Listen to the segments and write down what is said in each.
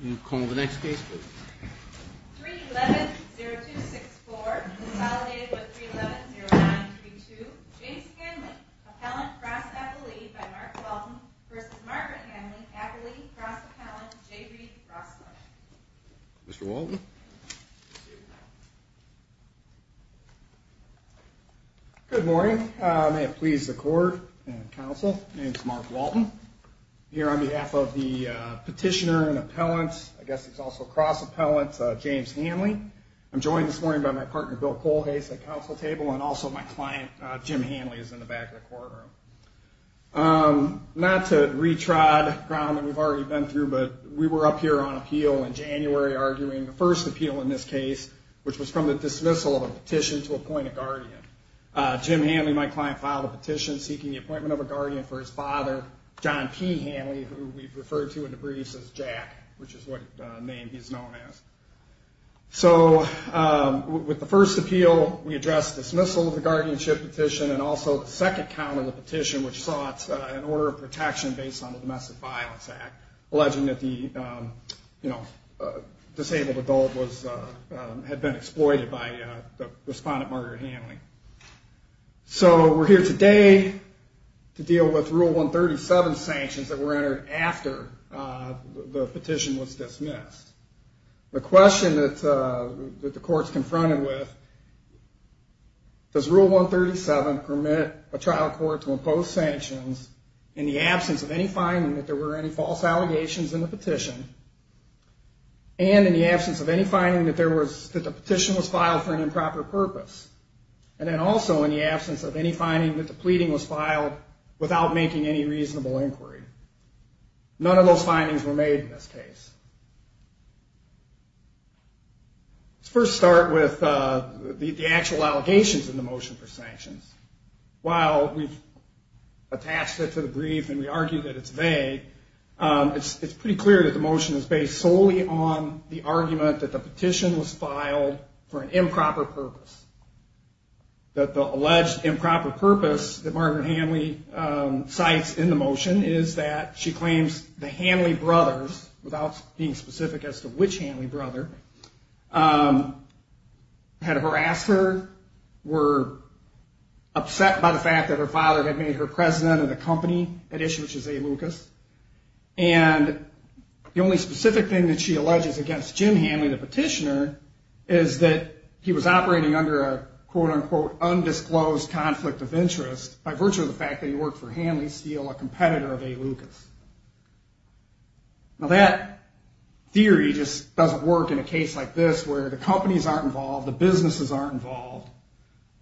Can you call the next case please? 3-11-0264 consolidated with 3-11-0932 James Hanley, appellant, cross-appellate by Mark Walton versus Margaret Hanley, appellate, cross-appellant, J. Reid, cross-court Mr. Walton Good morning. May it please the court and counsel, my name is Mark Walton here on behalf of the petitioner and appellant, I guess he's also cross-appellant, James Hanley I'm joined this morning by my partner Bill Kohlhase at the counsel table and also my client Jim Hanley is in the back of the courtroom Not to retrod ground that we've already been through, but we were up here on appeal in January arguing the first appeal in this case, which was from the dismissal of a petition to appoint a guardian Jim Hanley, my client, filed a petition seeking the appointment of a guardian for his father, John P. Hanley who we've referred to in the briefs as Jack, which is what name he's known as So, with the first appeal, we addressed dismissal of the guardianship petition and also the second count of the petition, which sought an order of protection based on the Domestic Violence Act alleging that the disabled adult had been exploited by the respondent, Margaret Hanley So, we're here today to deal with Rule 137 sanctions that were entered after the petition was dismissed The question that the court's confronted with, does Rule 137 permit a trial court to impose sanctions in the absence of any finding that there were any false allegations in the petition and in the absence of any finding that the petition was filed for an improper purpose and then also in the absence of any finding that the pleading was filed without making any reasonable inquiry None of those findings were made in this case Let's first start with the actual allegations in the motion for sanctions While we've attached it to the brief and we argue that it's vague, it's pretty clear that the motion is based solely on the argument that the petition was filed for an improper purpose That the alleged improper purpose that Margaret Hanley cites in the motion is that she claims the Hanley brothers without being specific as to which Hanley brother, had harassed her, were upset by the fact that her father had made her president of the company at issue, which is A. Lucas and the only specific thing that she alleges against Jim Hanley, the petitioner, is that he was operating under a quote-unquote undisclosed conflict of interest by virtue of the fact that he worked for Hanley Steel, a competitor of A. Lucas Now that theory just doesn't work in a case like this where the companies aren't involved, the businesses aren't involved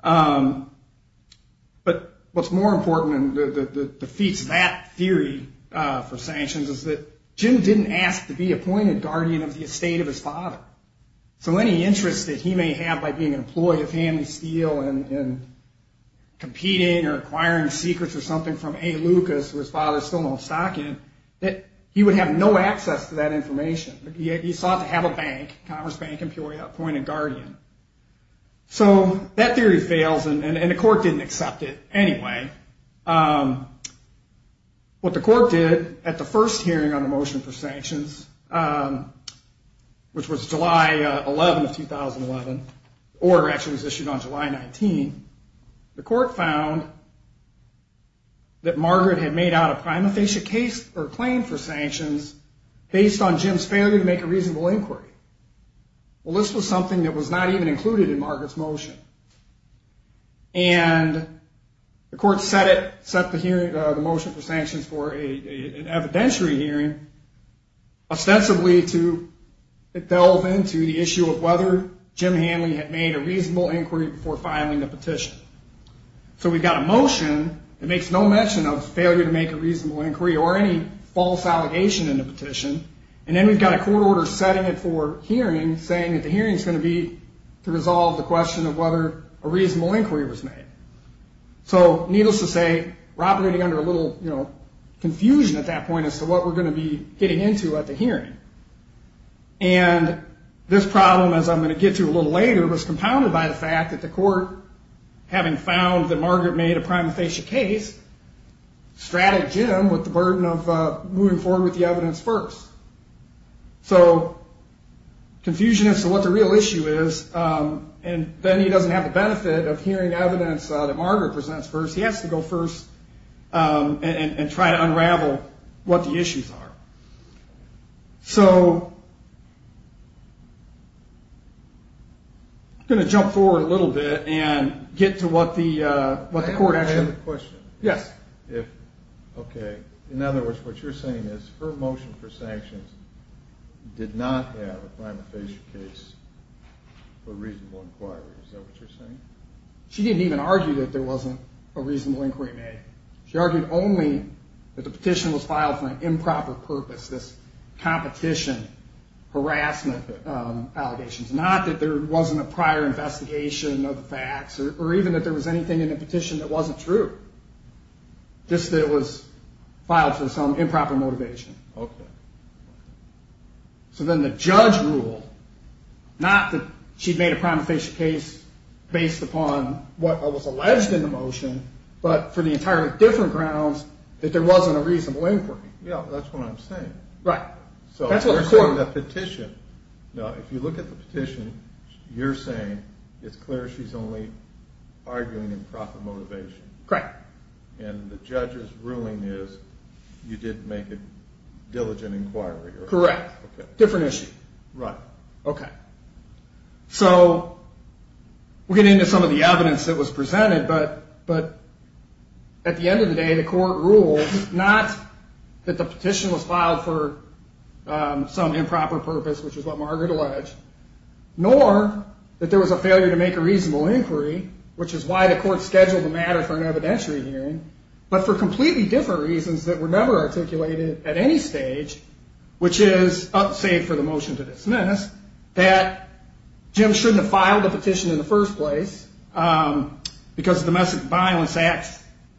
But what's more important and defeats that theory for sanctions is that Jim didn't ask to be appointed guardian of the estate of his father So any interest that he may have by being an employee of Hanley Steel and competing or acquiring secrets or something from A. Lucas who his father is still not stocking, he would have no access to that information He sought to have a bank, Commerce Bank in Peoria, appoint a guardian So that theory fails and the court didn't accept it anyway What the court did at the first hearing on the motion for sanctions, which was July 11, 2011 Or actually it was issued on July 19, the court found that Margaret had made out a prima facie case or claim for sanctions based on Jim's failure to make a reasonable inquiry Well, this was something that was not even included in Margaret's motion And the court set the motion for sanctions for an evidentiary hearing ostensibly to delve into the issue of whether Jim Hanley had made a reasonable inquiry before filing the petition So we've got a motion that makes no mention of failure to make a reasonable inquiry or any false allegation in the petition And then we've got a court order setting it for hearing saying that the hearing is going to be to resolve the question of whether a reasonable inquiry was made So needless to say, we're operating under a little confusion at that point as to what we're going to be getting into at the hearing And this problem, as I'm going to get to a little later, was compounded by the fact that the court having found that Margaret made a prima facie case, straddled Jim with the burden of moving forward with the evidence first So confusion as to what the real issue is And then he doesn't have the benefit of hearing evidence that Margaret presents first He has to go first and try to unravel what the issues are So I'm going to jump forward a little bit and get to what the court actually I have a question. In other words, what you're saying is her motion for sanctions did not have a prima facie case for a reasonable inquiry She didn't even argue that there wasn't a reasonable inquiry made She argued only that the petition was filed for an improper purpose, this competition, harassment allegations Not that there wasn't a prior investigation of the facts or even that there was anything in the petition that wasn't true Just that it was filed for some improper motivation So then the judge ruled, not that she made a prima facie case based upon what was alleged in the motion, but for the entirely different grounds that there wasn't a reasonable inquiry If you look at the petition, you're saying it's clear she's only arguing improper motivation And the judge's ruling is you didn't make a diligent inquiry Correct. Different issue So we'll get into some of the evidence that was presented, but at the end of the day the court ruled not that the petition was filed for some improper purpose, which is what Margaret alleged Nor that there was a failure to make a reasonable inquiry, which is why the court scheduled the matter for an evidentiary hearing But for completely different reasons that were never articulated at any stage Which is, save for the motion to dismiss, that Jim shouldn't have filed the petition in the first place Because the Domestic Violence Act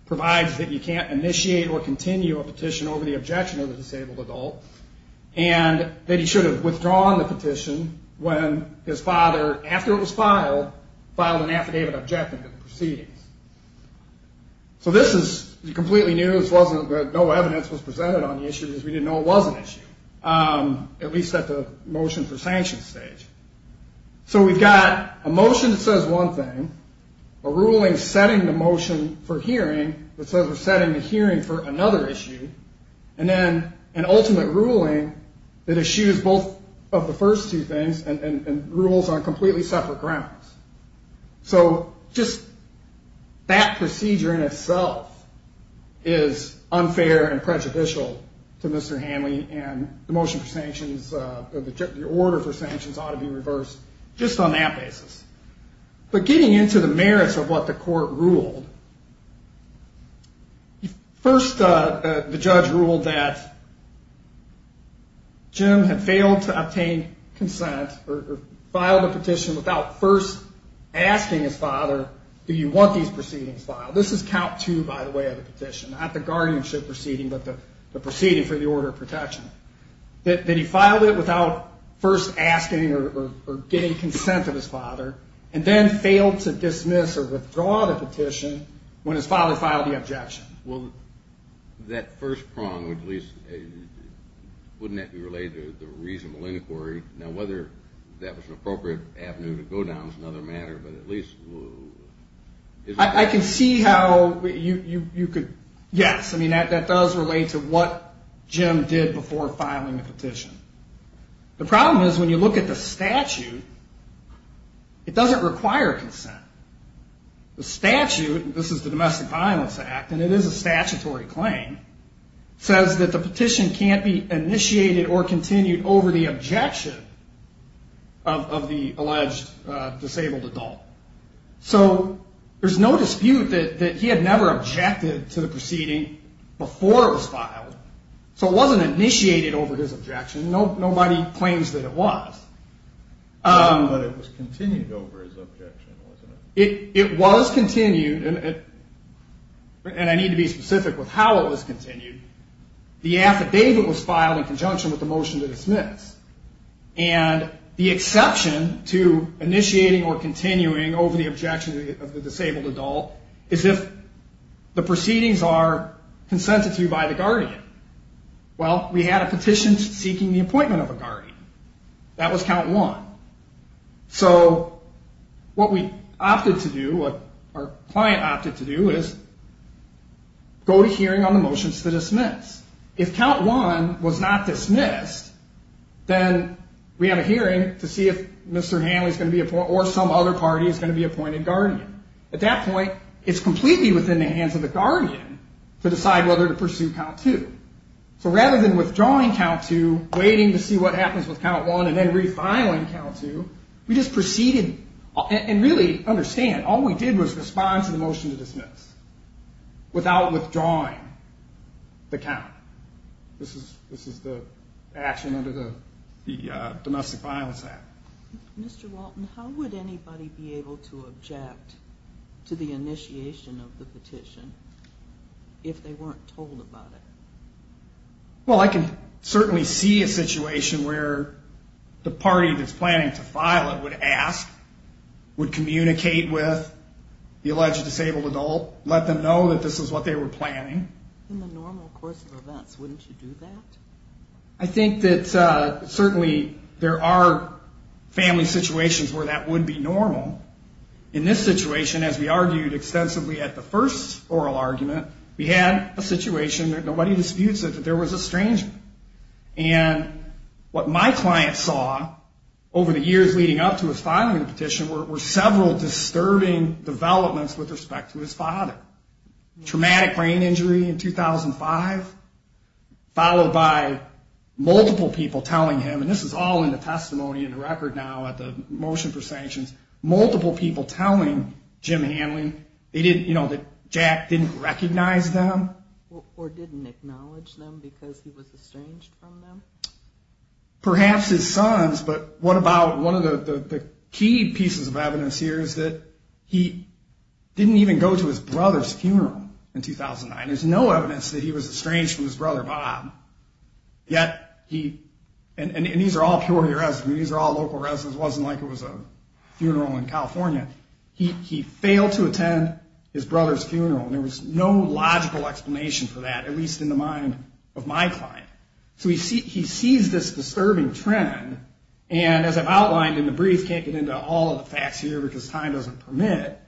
provides that you can't initiate or continue a petition over the objection of a disabled adult And that he should have withdrawn the petition when his father, after it was filed, filed an affidavit objecting to the proceedings So this is completely new, no evidence was presented on the issue because we didn't know it was an issue At least at the motion for sanctions stage So we've got a motion that says one thing, a ruling setting the motion for hearing that says we're setting the hearing for another issue And then an ultimate ruling that eschews both of the first two things and rules on completely separate grounds So just that procedure in itself is unfair and prejudicial to Mr. Hanley And the motion for sanctions, the order for sanctions ought to be reversed just on that basis But getting into the merits of what the court ruled First, the judge ruled that Jim had failed to obtain consent or file the petition without first asking his father Do you want these proceedings filed? This is count two, by the way, of the petition, not the guardianship proceeding, but the proceeding for the order of protection That he filed it without first asking or getting consent of his father And then failed to dismiss or withdraw the petition when his father filed the objection Well, that first prong, wouldn't that be related to the reasonable inquiry? Now whether that was an appropriate avenue to go down is another matter, but at least... I can see how you could, yes, I mean, that does relate to what Jim did before filing the petition. The problem is when you look at the statute, it doesn't require consent. The statute, this is the Domestic Violence Act, and it is a statutory claim, says that the petition can't be initiated or continued over the objection of the alleged disabled adult. So there's no dispute that he had never objected to the proceeding before it was filed. So it wasn't initiated over his objection. Nobody claims that it was. But it was continued over his objection, wasn't it? It was continued, and I need to be specific with how it was continued. The affidavit was filed in conjunction with the motion to dismiss. And the exception to initiating or continuing over the objection of the disabled adult is if the proceedings are consented to by the guardian. Well, we had a petition seeking the appointment of a guardian. That was count one. So what we opted to do, what our client opted to do, is go to hearing on the motions to dismiss. If count one was not dismissed, then we have a hearing to see if Mr. Hanley is going to be appointed, or some other party is going to be appointed guardian. At that point, it's completely within the hands of the guardian to decide whether to pursue count two. So rather than withdrawing count two, waiting to see what happens with count one, and then refiling count two, we just proceeded. And really understand, all we did was respond to the motion to dismiss without withdrawing. The count. This is the action under the Domestic Violence Act. Mr. Walton, how would anybody be able to object to the initiation of the petition if they weren't told about it? Well, I can certainly see a situation where the party that's planning to file it would ask, would communicate with the alleged disabled adult, let them know that this is what they were planning. In the normal course of events, wouldn't you do that? I think that certainly there are family situations where that would be normal. In this situation, as we argued extensively at the first oral argument, we had a situation that nobody disputes it, that there was a stranger. And what my client saw over the years leading up to his filing of the petition were several disturbing developments with respect to his father. Traumatic brain injury in 2005, followed by multiple people telling him, and this is all in the testimony in the record now at the motion for sanctions, multiple people telling Jim Hanley that Jack didn't recognize them. Or didn't acknowledge them because he was estranged from them. Perhaps his sons, but what about one of the key pieces of evidence here is that he didn't even go to his brother's funeral in 2009. There's no evidence that he was estranged from his brother, Bob. And these are all purely residents, these are all local residents, it wasn't like it was a funeral in California. He failed to attend his brother's funeral, and there was no logical explanation for that, at least in the mind of my client. So he sees this disturbing trend, and as I've outlined in the brief, can't get into all of the facts here because time doesn't permit,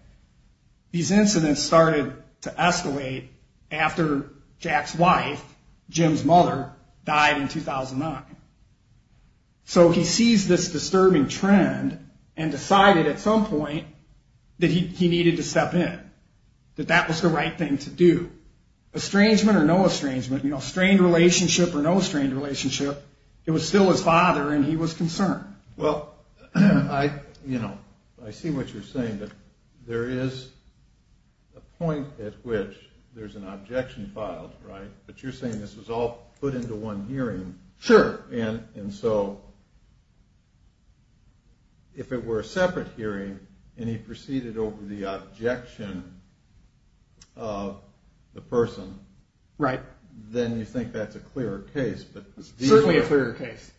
these incidents started to escalate after Jack's wife, Jim's mother, died in 2009. So he sees this disturbing trend and decided at some point that he needed to step in, that that was the right thing to do. Estrangement or no estrangement, you know, strained relationship or no strained relationship, it was still his father and he was concerned. Well, I, you know, I see what you're saying, that there is a point at which there's an objection filed, right, but you're saying this was all put into one hearing. Sure, and so if it were a separate hearing and he proceeded over the objection of the person, then you think that's a clearer case. Certainly a clearer case.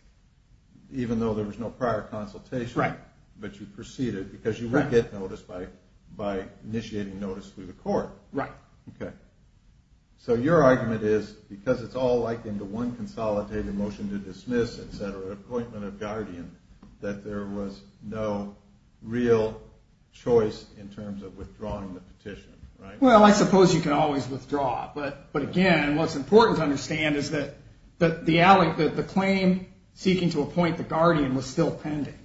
Even though there was no prior consultation, but you proceeded because you would get notice by initiating notice through the court. Right. So your argument is because it's all like in the one consolidated motion to dismiss, etc., appointment of guardian, that there was no real choice in terms of withdrawing the petition, right? Well, I suppose you can always withdraw, but again, what's important to understand is that the claim seeking to appoint the guardian was still pending.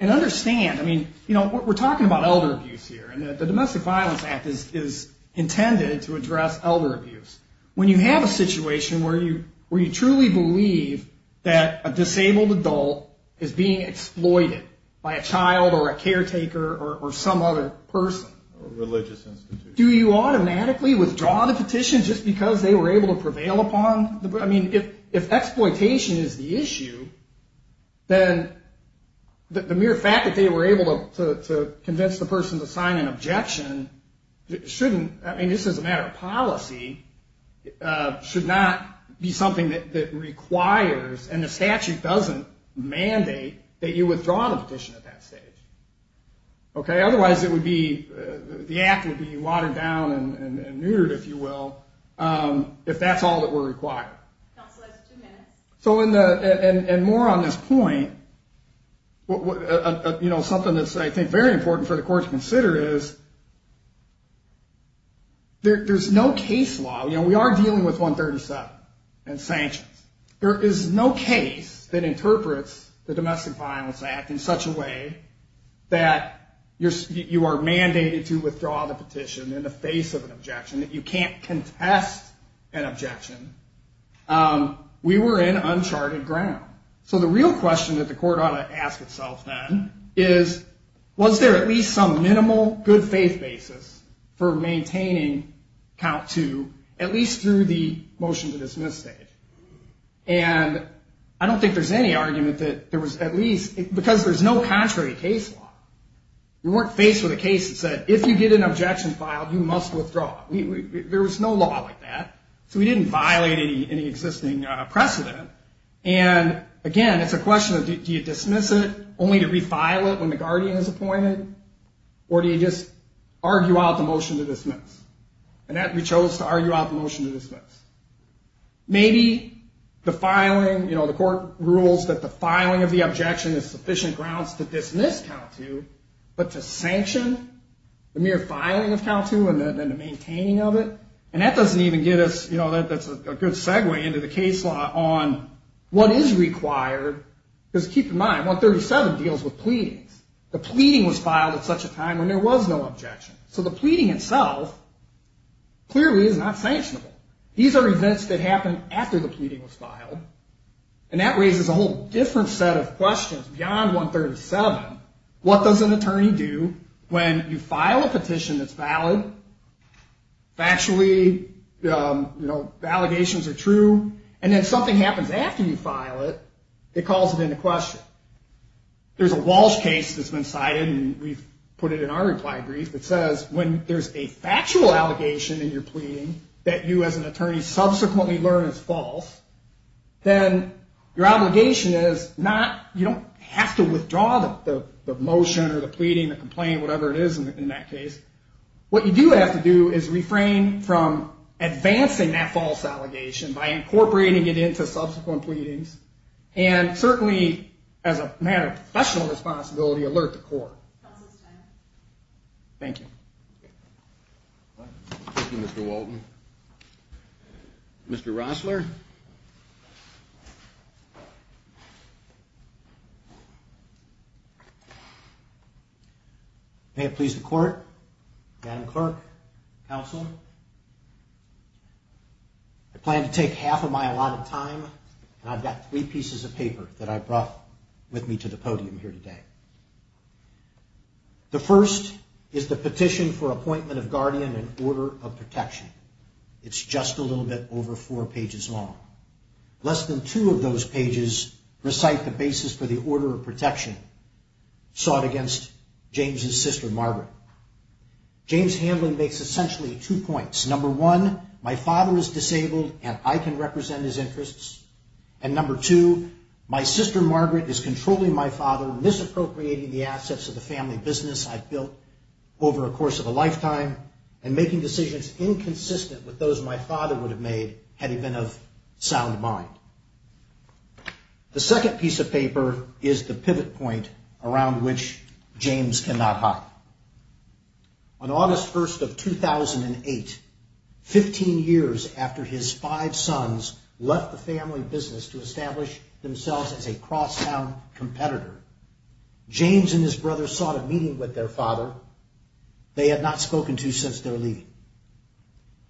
And understand, I mean, you know, we're talking about elder abuse here, and the Domestic Violence Act is intended to address elder abuse. When you have a situation where you truly believe that a disabled adult is being exploited by a child or a caretaker or some other person, do you automatically withdraw the petition just because they were able to prevail upon? I mean, if exploitation is the issue, then the mere fact that they were able to convince the person to sign an objection shouldn't, I mean, just as a matter of policy, should not be something that requires, and the statute doesn't mandate, that you withdraw the petition at that stage. Okay? So in the, and more on this point, you know, something that's, I think, very important for the court to consider is there's no case law, you know, we are dealing with 137 and sanctions. There is no case that interprets the Domestic Violence Act in such a way that you are mandated to withdraw the petition in the face of an objection, that you can't contest an objection. We were in uncharted ground. So the real question that the court ought to ask itself then is, was there at least some minimal good faith basis for maintaining count two, at least through the motion to dismiss stage? And I don't think there's any argument that there was at least, because there's no contrary case law. We weren't faced with a case that said, if you get an objection filed, you must withdraw. There was no law like that. So we didn't violate any existing precedent. And again, it's a question of, do you dismiss it, only to refile it when the guardian is appointed, or do you just argue out the motion to dismiss? And that we chose to argue out the motion to dismiss. Maybe the filing, you know, the court rules that the filing of the objection is sufficient grounds to dismiss count two, but to sanction the mere filing of count two and then the maintaining of it, and that doesn't even get us, you know, that's a good segue into the case law on what is required, because keep in mind, 137 deals with pleadings. The pleading was filed at such a time when there was no objection. These are events that happened after the pleading was filed, and that raises a whole different set of questions beyond 137. What does an attorney do when you file a petition that's valid, factually, you know, the allegations are true, and then something happens after you file it that calls it into question? There's a Walsh case that's been cited, and we've put it in our reply brief, that says, when there's a factual allegation in your pleading that you as an attorney say, subsequently learned is false, then your obligation is not, you don't have to withdraw the motion or the pleading, the complaint, whatever it is in that case. What you do have to do is refrain from advancing that false allegation by incorporating it into subsequent pleadings, and certainly as a matter of professional responsibility, alert the court. Thank you. Mr. Rossler. May it please the court, Madam Clerk, counsel, I plan to take half of my allotted time, and I've got three pieces of paper that I brought with me to the podium here today. The first is the petition for appointment of guardian and order of protection. It's just a little bit older than that. It's over four pages long. Less than two of those pages recite the basis for the order of protection sought against James's sister, Margaret. James Hamblin makes essentially two points. Number one, my father is disabled, and I can represent his interests. And number two, my sister, Margaret, is controlling my father, misappropriating the assets of the family business I've built over the course of a lifetime, and making decisions inconsistent with those my father would have made had he been of sound mind. The second piece of paper is the pivot point around which James cannot hide. On August 1st of 2008, 15 years after his five sons left the family business to establish themselves as a cross-town competitor, James and his brother sought a meeting with their father. They had not spoken to since their leaving.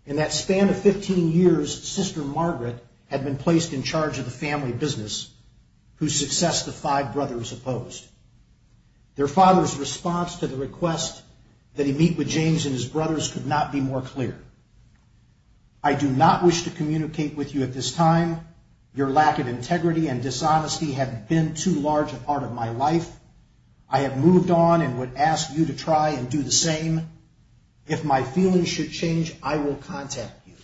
In that span of 15 years, sister Margaret had been placed in charge of the family business, whose success the five brothers opposed. Their father's response to the request that he meet with James and his brothers could not be more clear. I do not wish to communicate with you at this time. Your lack of integrity and dishonesty have been too large a part of my life. I have moved on and would ask you to try and do the same. If my feelings should change, I will contact you.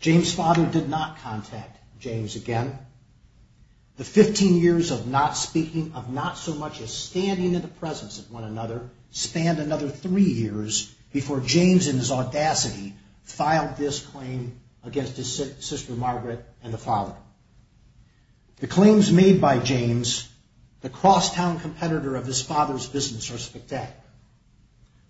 James' father did not contact James again. The 15 years of not speaking, of not so much as standing in the presence of one another, spanned another three years before James, in his audacity, filed this claim against his sister Margaret and the father. The claims made by James, the cross-town competitor of this father's business, are spectacular.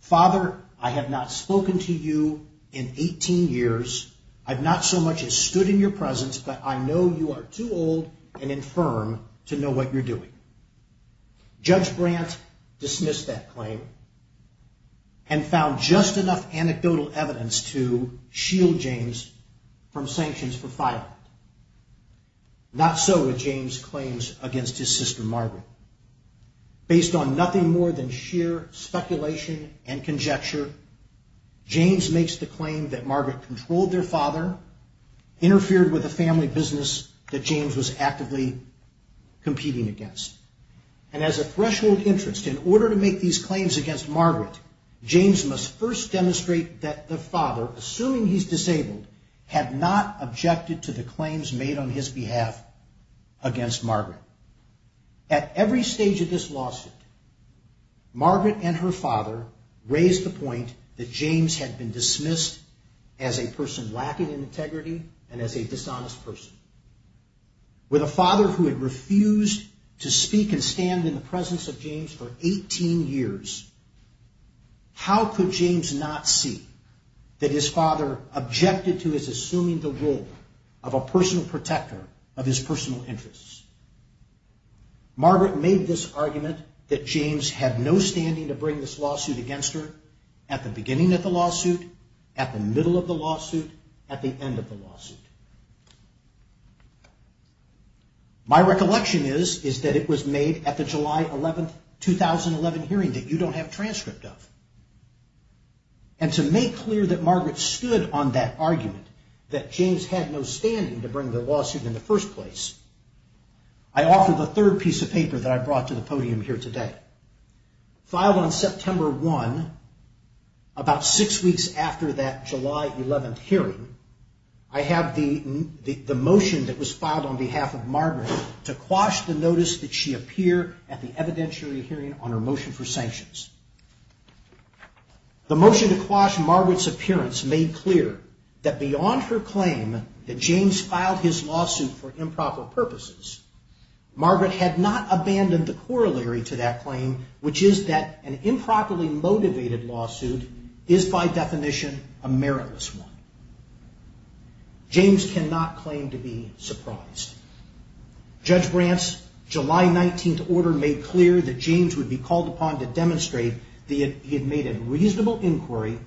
Father, I have not spoken to you in 18 years. I have not so much as stood in your presence, but I know you are too old and infirm to know what you are doing. Judge Brandt dismissed that claim and found just enough anecdotal evidence to shield James from sanctions for filing it. Not so with James' claims against his sister Margaret. Based on nothing more than sheer speculation and conjecture, James makes the claim that Margaret controlled their father, interfered with a family business that James was actively competing against. And as a threshold interest, in order to make these claims against Margaret, James must first demonstrate that the father, assuming he is disabled, had not objected to the claims made on his behalf against Margaret. At every stage of this lawsuit, Margaret and her father raised the point that James had been dismissed as a person lacking in integrity and as a dishonest person. With a father who had refused to speak and stand in the presence of James for 18 years, how could James not see that his father objected to the claims made on his behalf? James' argument was that Margaret was assuming the role of a personal protector of his personal interests. Margaret made this argument that James had no standing to bring this lawsuit against her at the beginning of the lawsuit, at the middle of the lawsuit, at the end of the lawsuit. My recollection is that it was made at the July 11, 2011 hearing that you don't have transcript of. And to make clear that Margaret stood on that argument, that James had no standing to bring the lawsuit in the first place, I offer the third piece of paper that I brought to the podium here today. Filed on September 1, about six weeks after that July 11 hearing, I have the motion that was filed on behalf of Margaret to quash the notice that she appear at the evidentiary hearing on her motion for sanctions. The motion to quash Margaret's appearance made clear that beyond her claim that James filed his lawsuit for improper purposes, Margaret had not abandoned the corollary to that claim, which is that an improperly motivated lawsuit is by definition a meritless one. James cannot claim to be surprised. Judge Brandt's July 19 order made clear that James would be called upon to demonstrate that he had made a reasonable inquiry,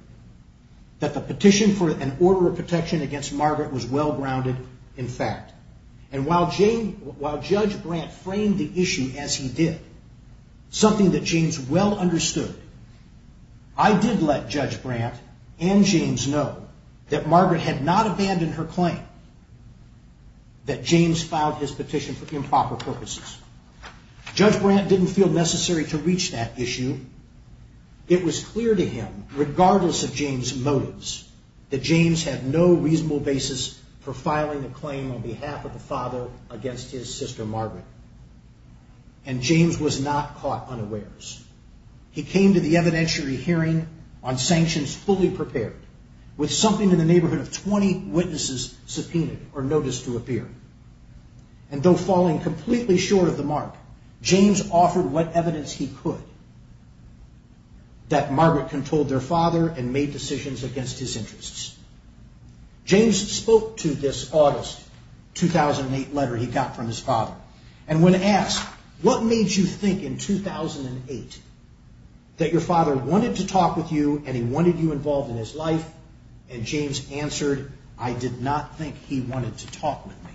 that the petition for an order of protection against Margaret was well-grounded in fact. And while Judge Brandt framed the issue as he did, something that James well understood, I did let Judge Brandt and James know that Margaret had not abandoned her claim, that James had not abandoned his claim. Judge Brandt did not feel necessary to reach that issue. It was clear to him, regardless of James' motives, that James had no reasonable basis for filing a claim on behalf of the father against his sister Margaret. And James was not caught unawares. He came to the evidentiary hearing on sanctions fully prepared, with something in the neighborhood of 20 witnesses subpoenaed or noticed to appear. And though falling completely short of the mark, James offered what evidence he could that Margaret controlled their father and made decisions against his interests. James spoke to this August 2008 letter he got from his father, and when asked, What made you think in 2008 that your father wanted to talk with you and he wanted you involved in his life? And James answered, I did not think he wanted to talk with me.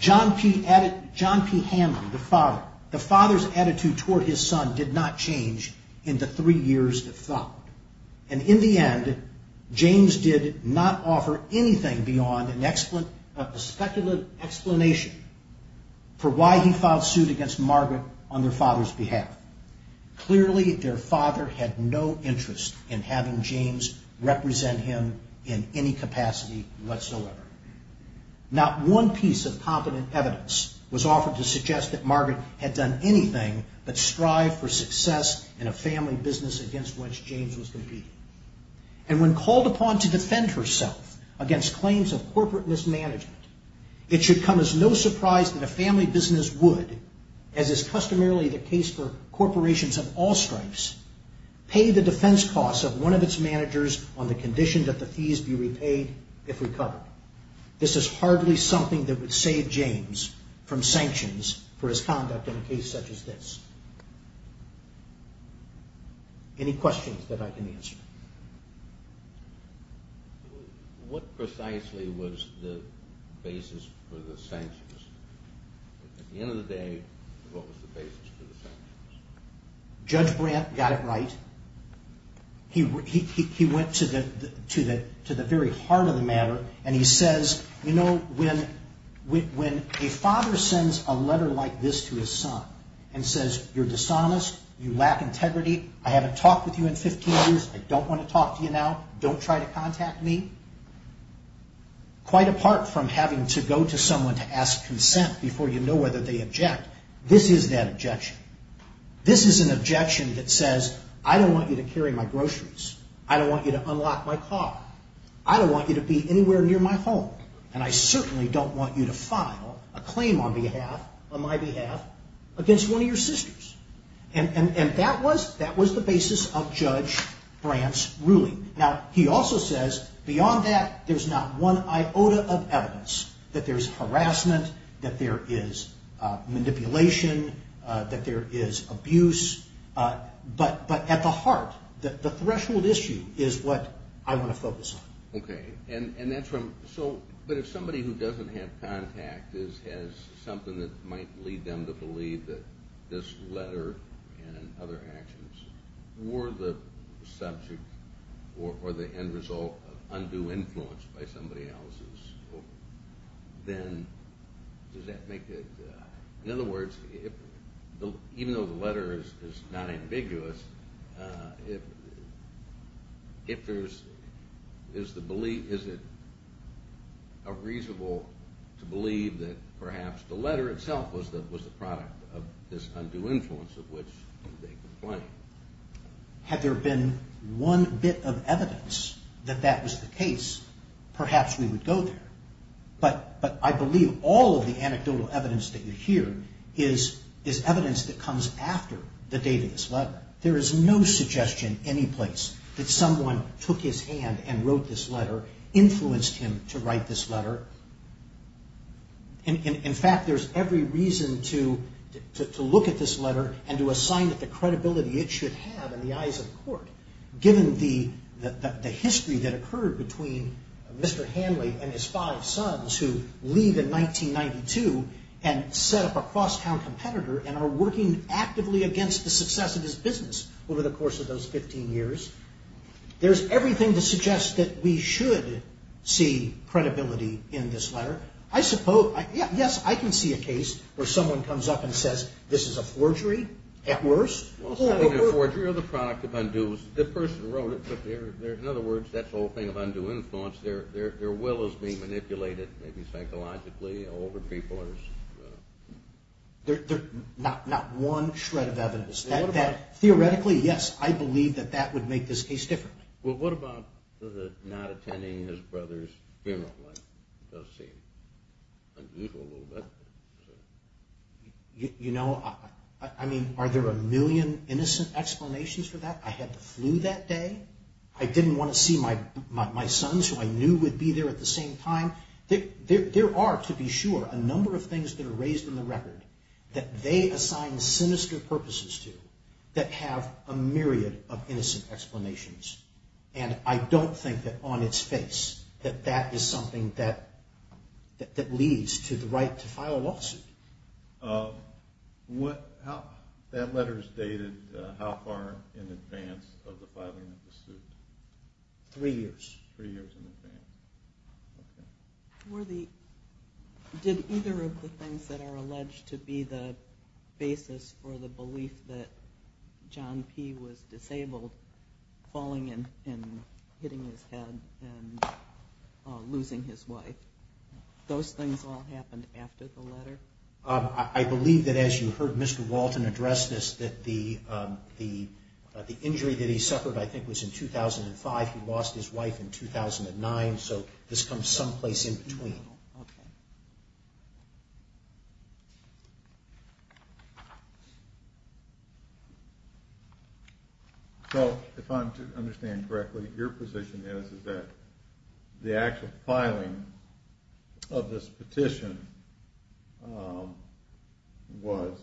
John P. Hamlin, the father, the father's attitude toward his son did not change in the three years that followed. And in the end, James did not offer anything beyond a speculative explanation for why he filed suit against Margaret on their father's behalf. Clearly, their father had no interest in having James represent him in any capacity whatsoever. Not one piece of competent evidence was offered to suggest that Margaret had done anything but strive for success in a family business against which James was competing. And when called upon to defend herself against claims of corporate mismanagement, it should come as no surprise that a family business would, as is customarily the case for corporations of all stripes, pay the defense costs of one of its managers on the condition that the fees be repaid if recovered. This is hardly something that would save James from sanctions for his conduct in a case such as this. Any questions that I can answer? What precisely was the basis for the sanctions? At the end of the day, what was the basis for the sanctions? Judge Brandt got it right. He went to the very heart of the matter and he says, you know, when a father sends a letter like this to his son and says, you're dishonest, you lack integrity, I haven't talked with you in 15 years, I don't want to talk to you now, don't try to contact me, quite apart from having to go to someone to ask consent before you know whether they object, this is that objection. This is an objection that says, I don't want you to carry my groceries, I don't want you to unlock my car, I don't want you to be anywhere near my home, and I certainly don't want you to file a claim on my behalf against one of your sisters. And that was the basis of Judge Brandt's ruling. Now, he also says, beyond that, there's not one iota of evidence that there's harassment, that there is manipulation, that there is abuse, but at the heart, the threshold issue is what I want to focus on. Okay, and that's from, so, but if somebody who doesn't have contact has something that might lead them to believe that this letter and other actions were the subject or the end result of undue influence by somebody else's, then does that make it, in other words, even though the letter is not ambiguous, if there's, is it reasonable to believe that perhaps the letter itself was the product of this undue influence of which they complained? Had there been one bit of evidence that that was the case, but I believe all of the anecdotal evidence that you hear is evidence that comes after the date of this letter. There is no suggestion anyplace that someone took his hand and wrote this letter, influenced him to write this letter. In fact, there's every reason to look at this letter and to assign it the credibility it should have in the eyes of the court, given the history that occurred with John Sons, who leave in 1992 and set up a cross-town competitor and are working actively against the success of his business over the course of those 15 years. There's everything to suggest that we should see credibility in this letter. I suppose, yes, I can see a case where someone comes up and says, this is a forgery at worst. Is that related maybe psychologically? Older people? Not one shred of evidence. Theoretically, yes, I believe that that would make this case different. Well, what about the not attending his brother's funeral? You know, I mean, are there a million innocent explanations for that? I had the flu that day. I didn't want to see my sons who I knew there are, to be sure, a number of things that are raised in the record that they assign sinister purposes to that have a myriad of innocent explanations. And I don't think that on its face that that is something that leads to the right to file a lawsuit. That letter is dated how far in advance of the filing of the suit? Three years. Did either of the things that are alleged to be the basis for the belief that John P. was disabled, falling and hitting his head and losing his wife, those things all happened after the letter? I believe that as you heard Mr. Walton address this, that the injury that he suffered, I think, was in 2005. Okay. So, if I understand correctly, your position is that the actual filing of this petition was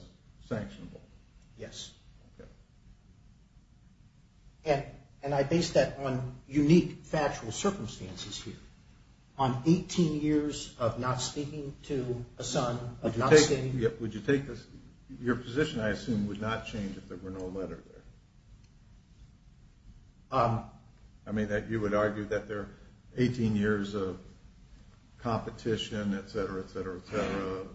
sanctionable? Yes. And I base that on unique factual circumstances here. On 18 years of not speaking to a son? Your position, I assume, would not change if there were no letter there? I mean, that you would argue that there are 18 years of competition, etc., etc., etc.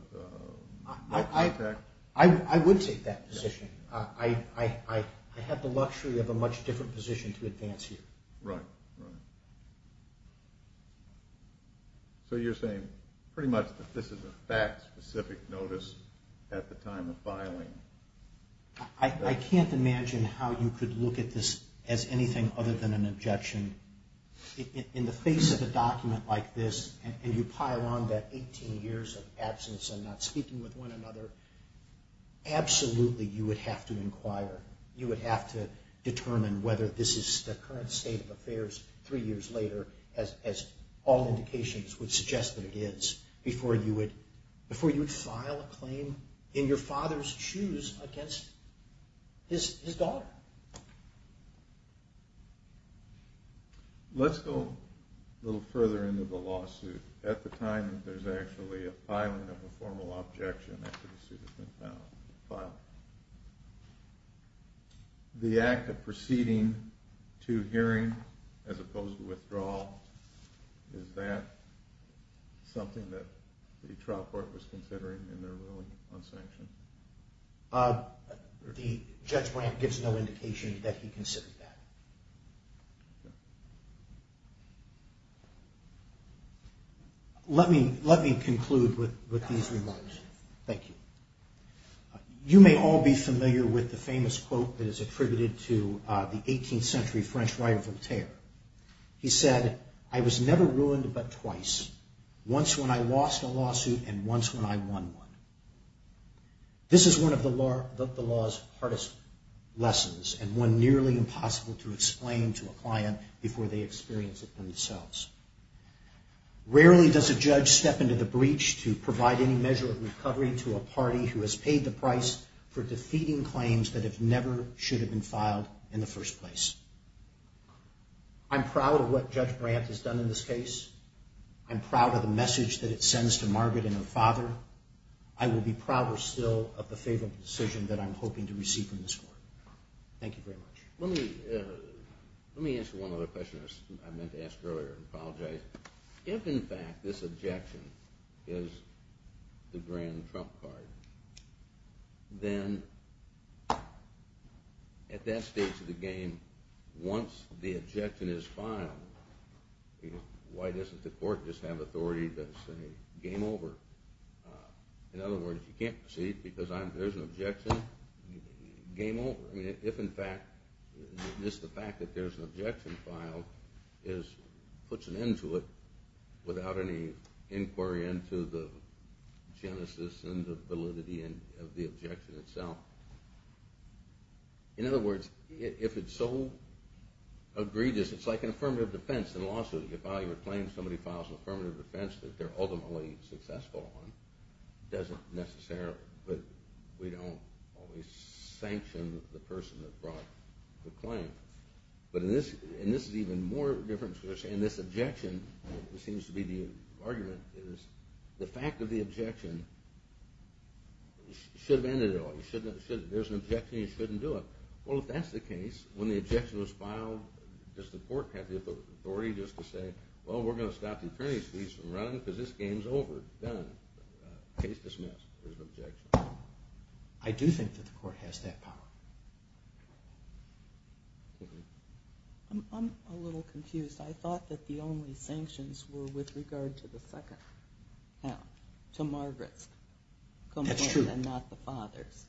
I would take that position. I have the luxury of a much different position to advance here. So you're saying pretty much that this is a fact-specific notice at the time of filing? I can't imagine how you could look at this as anything other than an objection. In the face of a document like this, and you pile on that 18 years of absence and not speaking with one another, absolutely you would have to inquire. You would have to determine whether this is the current state of affairs and all indications would suggest that it is before you would file a claim in your father's shoes against his daughter. Let's go a little further into the lawsuit at the time that there's actually a filing of a formal objection after the suit has been filed. The act of proceeding to hearing as opposed to withdrawal is that something that the trial court was considering in their ruling on sanction? The judge grant gives no indication that he considered that. Let me conclude with these remarks. Thank you. You may all be familiar with the famous quote that is attributed to the 18th century quote, but twice, once when I lost a lawsuit and once when I won one. This is one of the law's hardest lessons and one nearly impossible to explain to a client before they experience it themselves. Rarely does a judge step into the breach to provide any measure of recovery to a party who has paid the price for defeating claims that never should have been filed in the first place. I'm proud of the message that it sends to Margaret and her father. I will be prouder still of the favorable decision that I'm hoping to receive from this court. Thank you very much. Let me answer one other question I meant to ask earlier and apologize. If in fact this objection is the grand trump card, then at that stage of the game, once the objection is filed, does the court just have authority to say game over? In other words, you can't proceed because there's an objection, game over. If in fact, just the fact that there's an objection filed puts an end to it without any inquiry into the genesis and the validity of the objection itself. In other words, if it's so egregious, it's like an affirmative defense in a lawsuit. The person who files an affirmative defense that they're ultimately successful on doesn't necessarily, but we don't always sanction the person that brought the claim. But in this, and this is even more different, this objection seems to be the argument. The fact of the objection should have ended it all. There's an objection and you shouldn't do it. There's an objection. I do think that the court has that power. I'm a little confused. I thought that the only sanctions were with regard to Margaret's complaint and not the father's.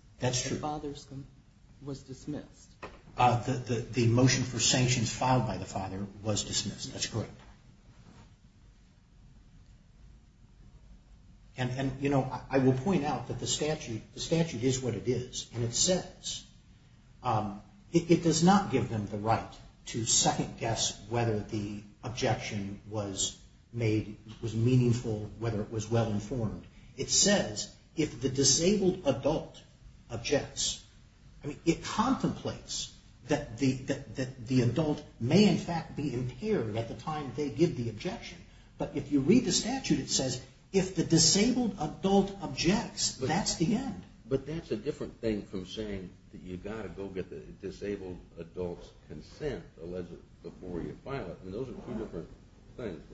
The motion for sanctions filed by the father was dismissed. I will point out that the statute is what it is and it says it does not give them the right to second guess whether the objection was made, was meaningful, whether it was well informed. It says if the disabled adult objects, it contemplates that the adult may in fact be impaired but if you read the statute it says if the disabled adult objects, that's the end. But that's a different thing from saying that you've got to go get the disabled adult's consent before you file it.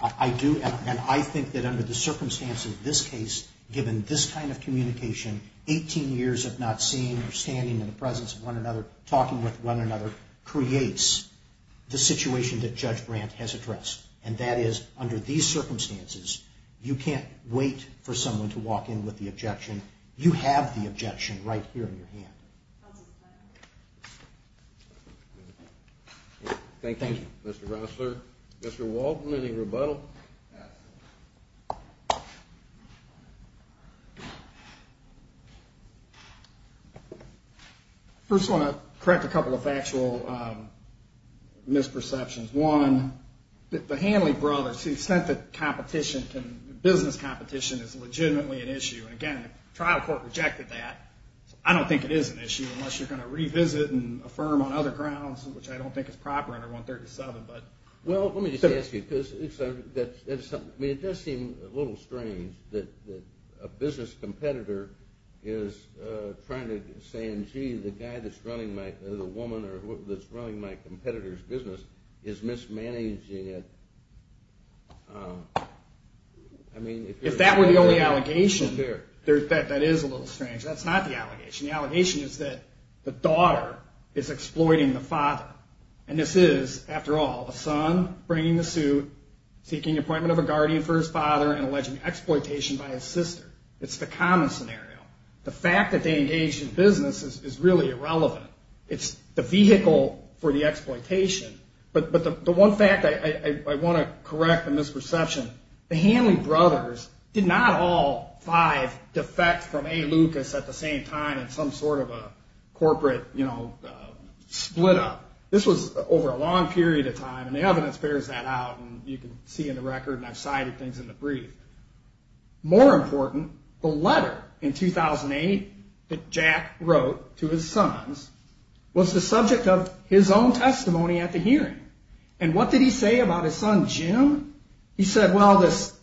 I do and I think that under the circumstances of this case, given this kind of communication, 18 years of not seeing or standing in the presence under these circumstances, you can't wait for someone to walk in with the objection. You have the objection right here in your hand. Thank you. First I want to correct a couple of factual misperceptions. One, the Hanley brothers said that competition, business competition is legitimately an issue. I don't think it is an issue unless you're going to revisit and affirm on other grounds which I don't think is proper under 137. It does seem a little strange that a business competitor is trying to say the guy that's running my business is mismanaging it. If that were the only allegation, that is a little strange. That's not the allegation. The allegation is that the daughter is exploiting the father. And this is, after all, the son bringing the suit, seeking appointment of a guardian for his father and alleging exploitation by his sister. The one fact I want to correct the misperception, the Hanley brothers did not all five defect from A. Lucas at the same time in some sort of a corporate split up. This was over a long period of time and the evidence bears that out and you can see in the record and I've cited things in the brief. More important, the letter in 2008 that Jack wrote to his sons and what did he say about his son Jim? He said, well, this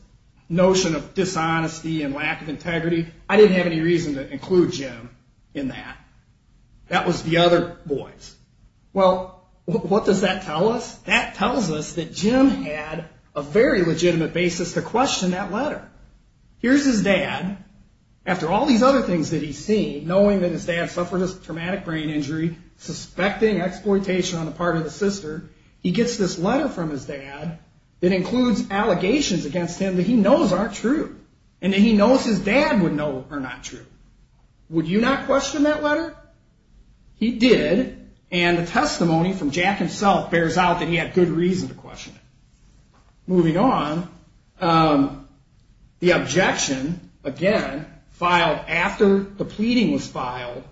notion of dishonesty and lack of integrity, I didn't have any reason to include Jim in that. That was the other boys. Well, what does that tell us? That tells us that Jim had a very legitimate basis to question that letter. He wrote this letter from his dad that includes allegations against him that he knows aren't true and that he knows his dad would know are not true. Would you not question that letter? He did. And the testimony from Jack himself bears out that he had good reason to question it. Moving on, the objection, again, filed after the pleading was filed,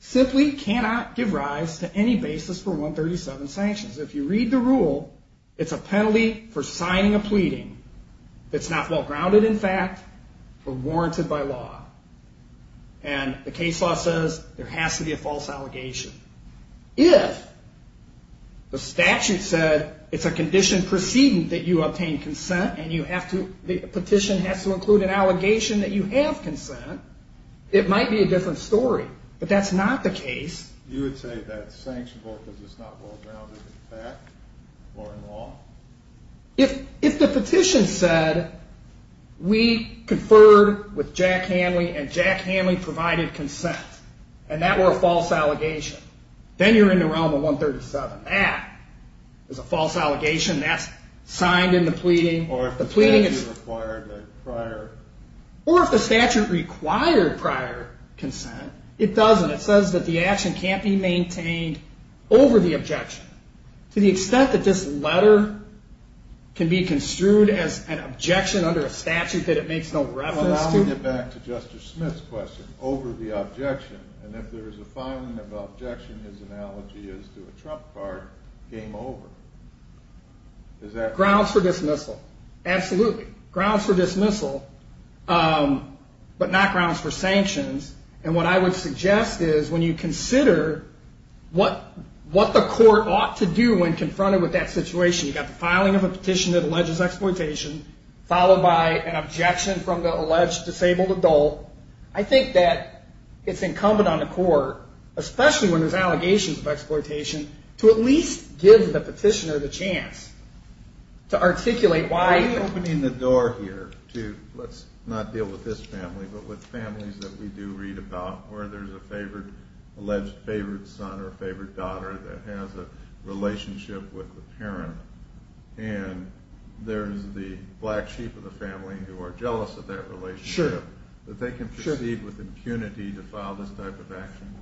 simply cannot give rise to any basis for 137 sanctions. According to the rule, it's a penalty for signing a pleading that's not well grounded in fact or warranted by law. And the case law says there has to be a false allegation. If the statute said it's a condition preceding that you obtain consent and the petition has to include an allegation that you have consent, it might be a different story, but that's not the case. If the petition said we conferred with Jack Hanley and Jack Hanley provided consent and that were a false allegation, then you're in the realm of 137. That is a false allegation. That's signed in the pleading. Or if the statute required prior consent, it doesn't. It says that the action can't be maintained over the objection and that this letter can be construed as an objection under a statute that it makes no reference to. I want to get back to Justice Smith's question, over the objection. And if there is a filing of objection, his analogy is to a trump card, game over. Grounds for dismissal, absolutely. Grounds for dismissal, but not grounds for sanctions. If you look at that situation, you've got the filing of a petition that alleges exploitation, followed by an objection from the alleged disabled adult, I think that it's incumbent on the court, especially when there's allegations of exploitation, to at least give the petitioner the chance to articulate why. Why are you opening the door here to, let's not deal with this family, but with families that we do read about where there's an alleged favored son or an alleged parent, and there's the black sheep of the family who are jealous of that relationship, that they can proceed with impunity to file this type of action?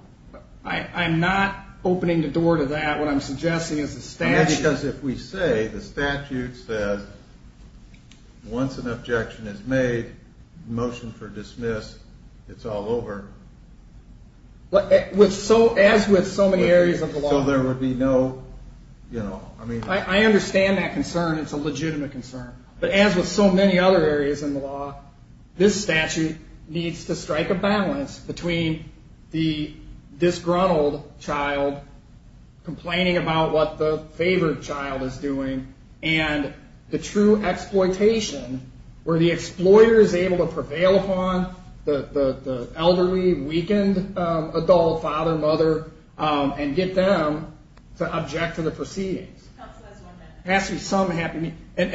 I'm not opening the door to that. What I'm suggesting is the statute. Because if we say the statute says once an objection is made, motion for dismiss, it's all over. I understand that concern. It's a legitimate concern. But as with so many other areas in the law, this statute needs to strike a balance between the disgruntled child complaining about what the favored child is doing and the true exploitation where the exploiter is able to prevail upon the elderly, weakened adult, father, mother, and get them to object to the proceedings. And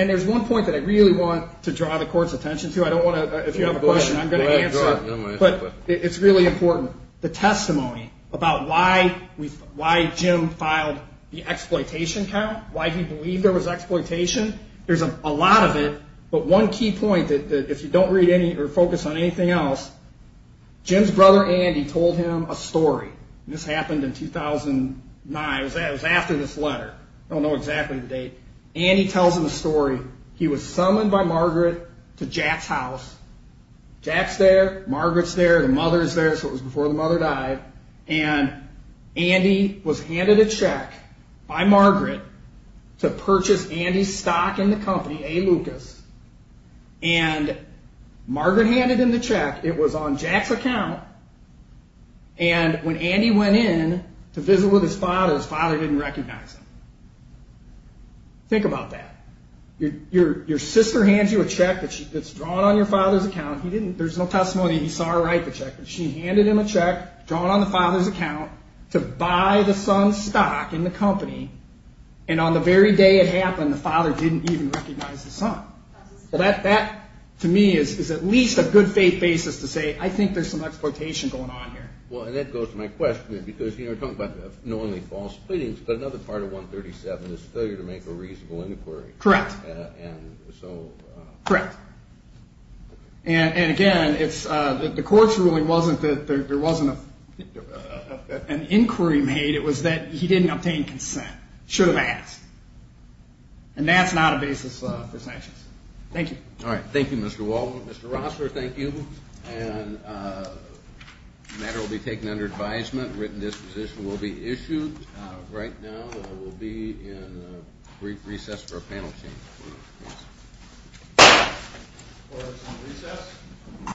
there's one point that I really want to draw the court's attention to. I don't want to, if you have a question, I'm going to answer it. But it's really important. The testimony about why Jim filed the exploitation count, why he believed there was exploitation, there's a lot of it. But one key point, if you don't read or focus on anything else, Jim's brother Andy told him a story. This happened in 2009. Andy tells him a story. He was summoned by Margaret to Jack's house. Jack's there. Margaret's there. The mother's there. So it was before the mother died. And Andy was handed a check by Margaret to purchase Andy's stock in the company, A. Lucas. And Margaret handed him the check. It was on Jack's account. And when Andy went in to visit with his father, his father didn't recognize him. Think about that. Your sister hands you a check that's drawn on your father's account. There's no testimony. He saw her write the check. But she handed him a check drawn on the father's account to buy the son's stock in the company. And on the very day it happened, the father didn't even recognize the son. So that, to me, is at least a good faith basis to say, I think there's some exploitation going on here. And I think it's a reasonable inquiry. Correct. And again, the court's ruling wasn't that there wasn't an inquiry made. It was that he didn't obtain consent. He should have asked. And that's not a basis for sanctions. Thank you. All right. Thank you, Mr. Waldman. Mr. Rossler, thank you. The matter will be taken under advisement. A written disposition will be issued. We'll take a brief recess for a panel change.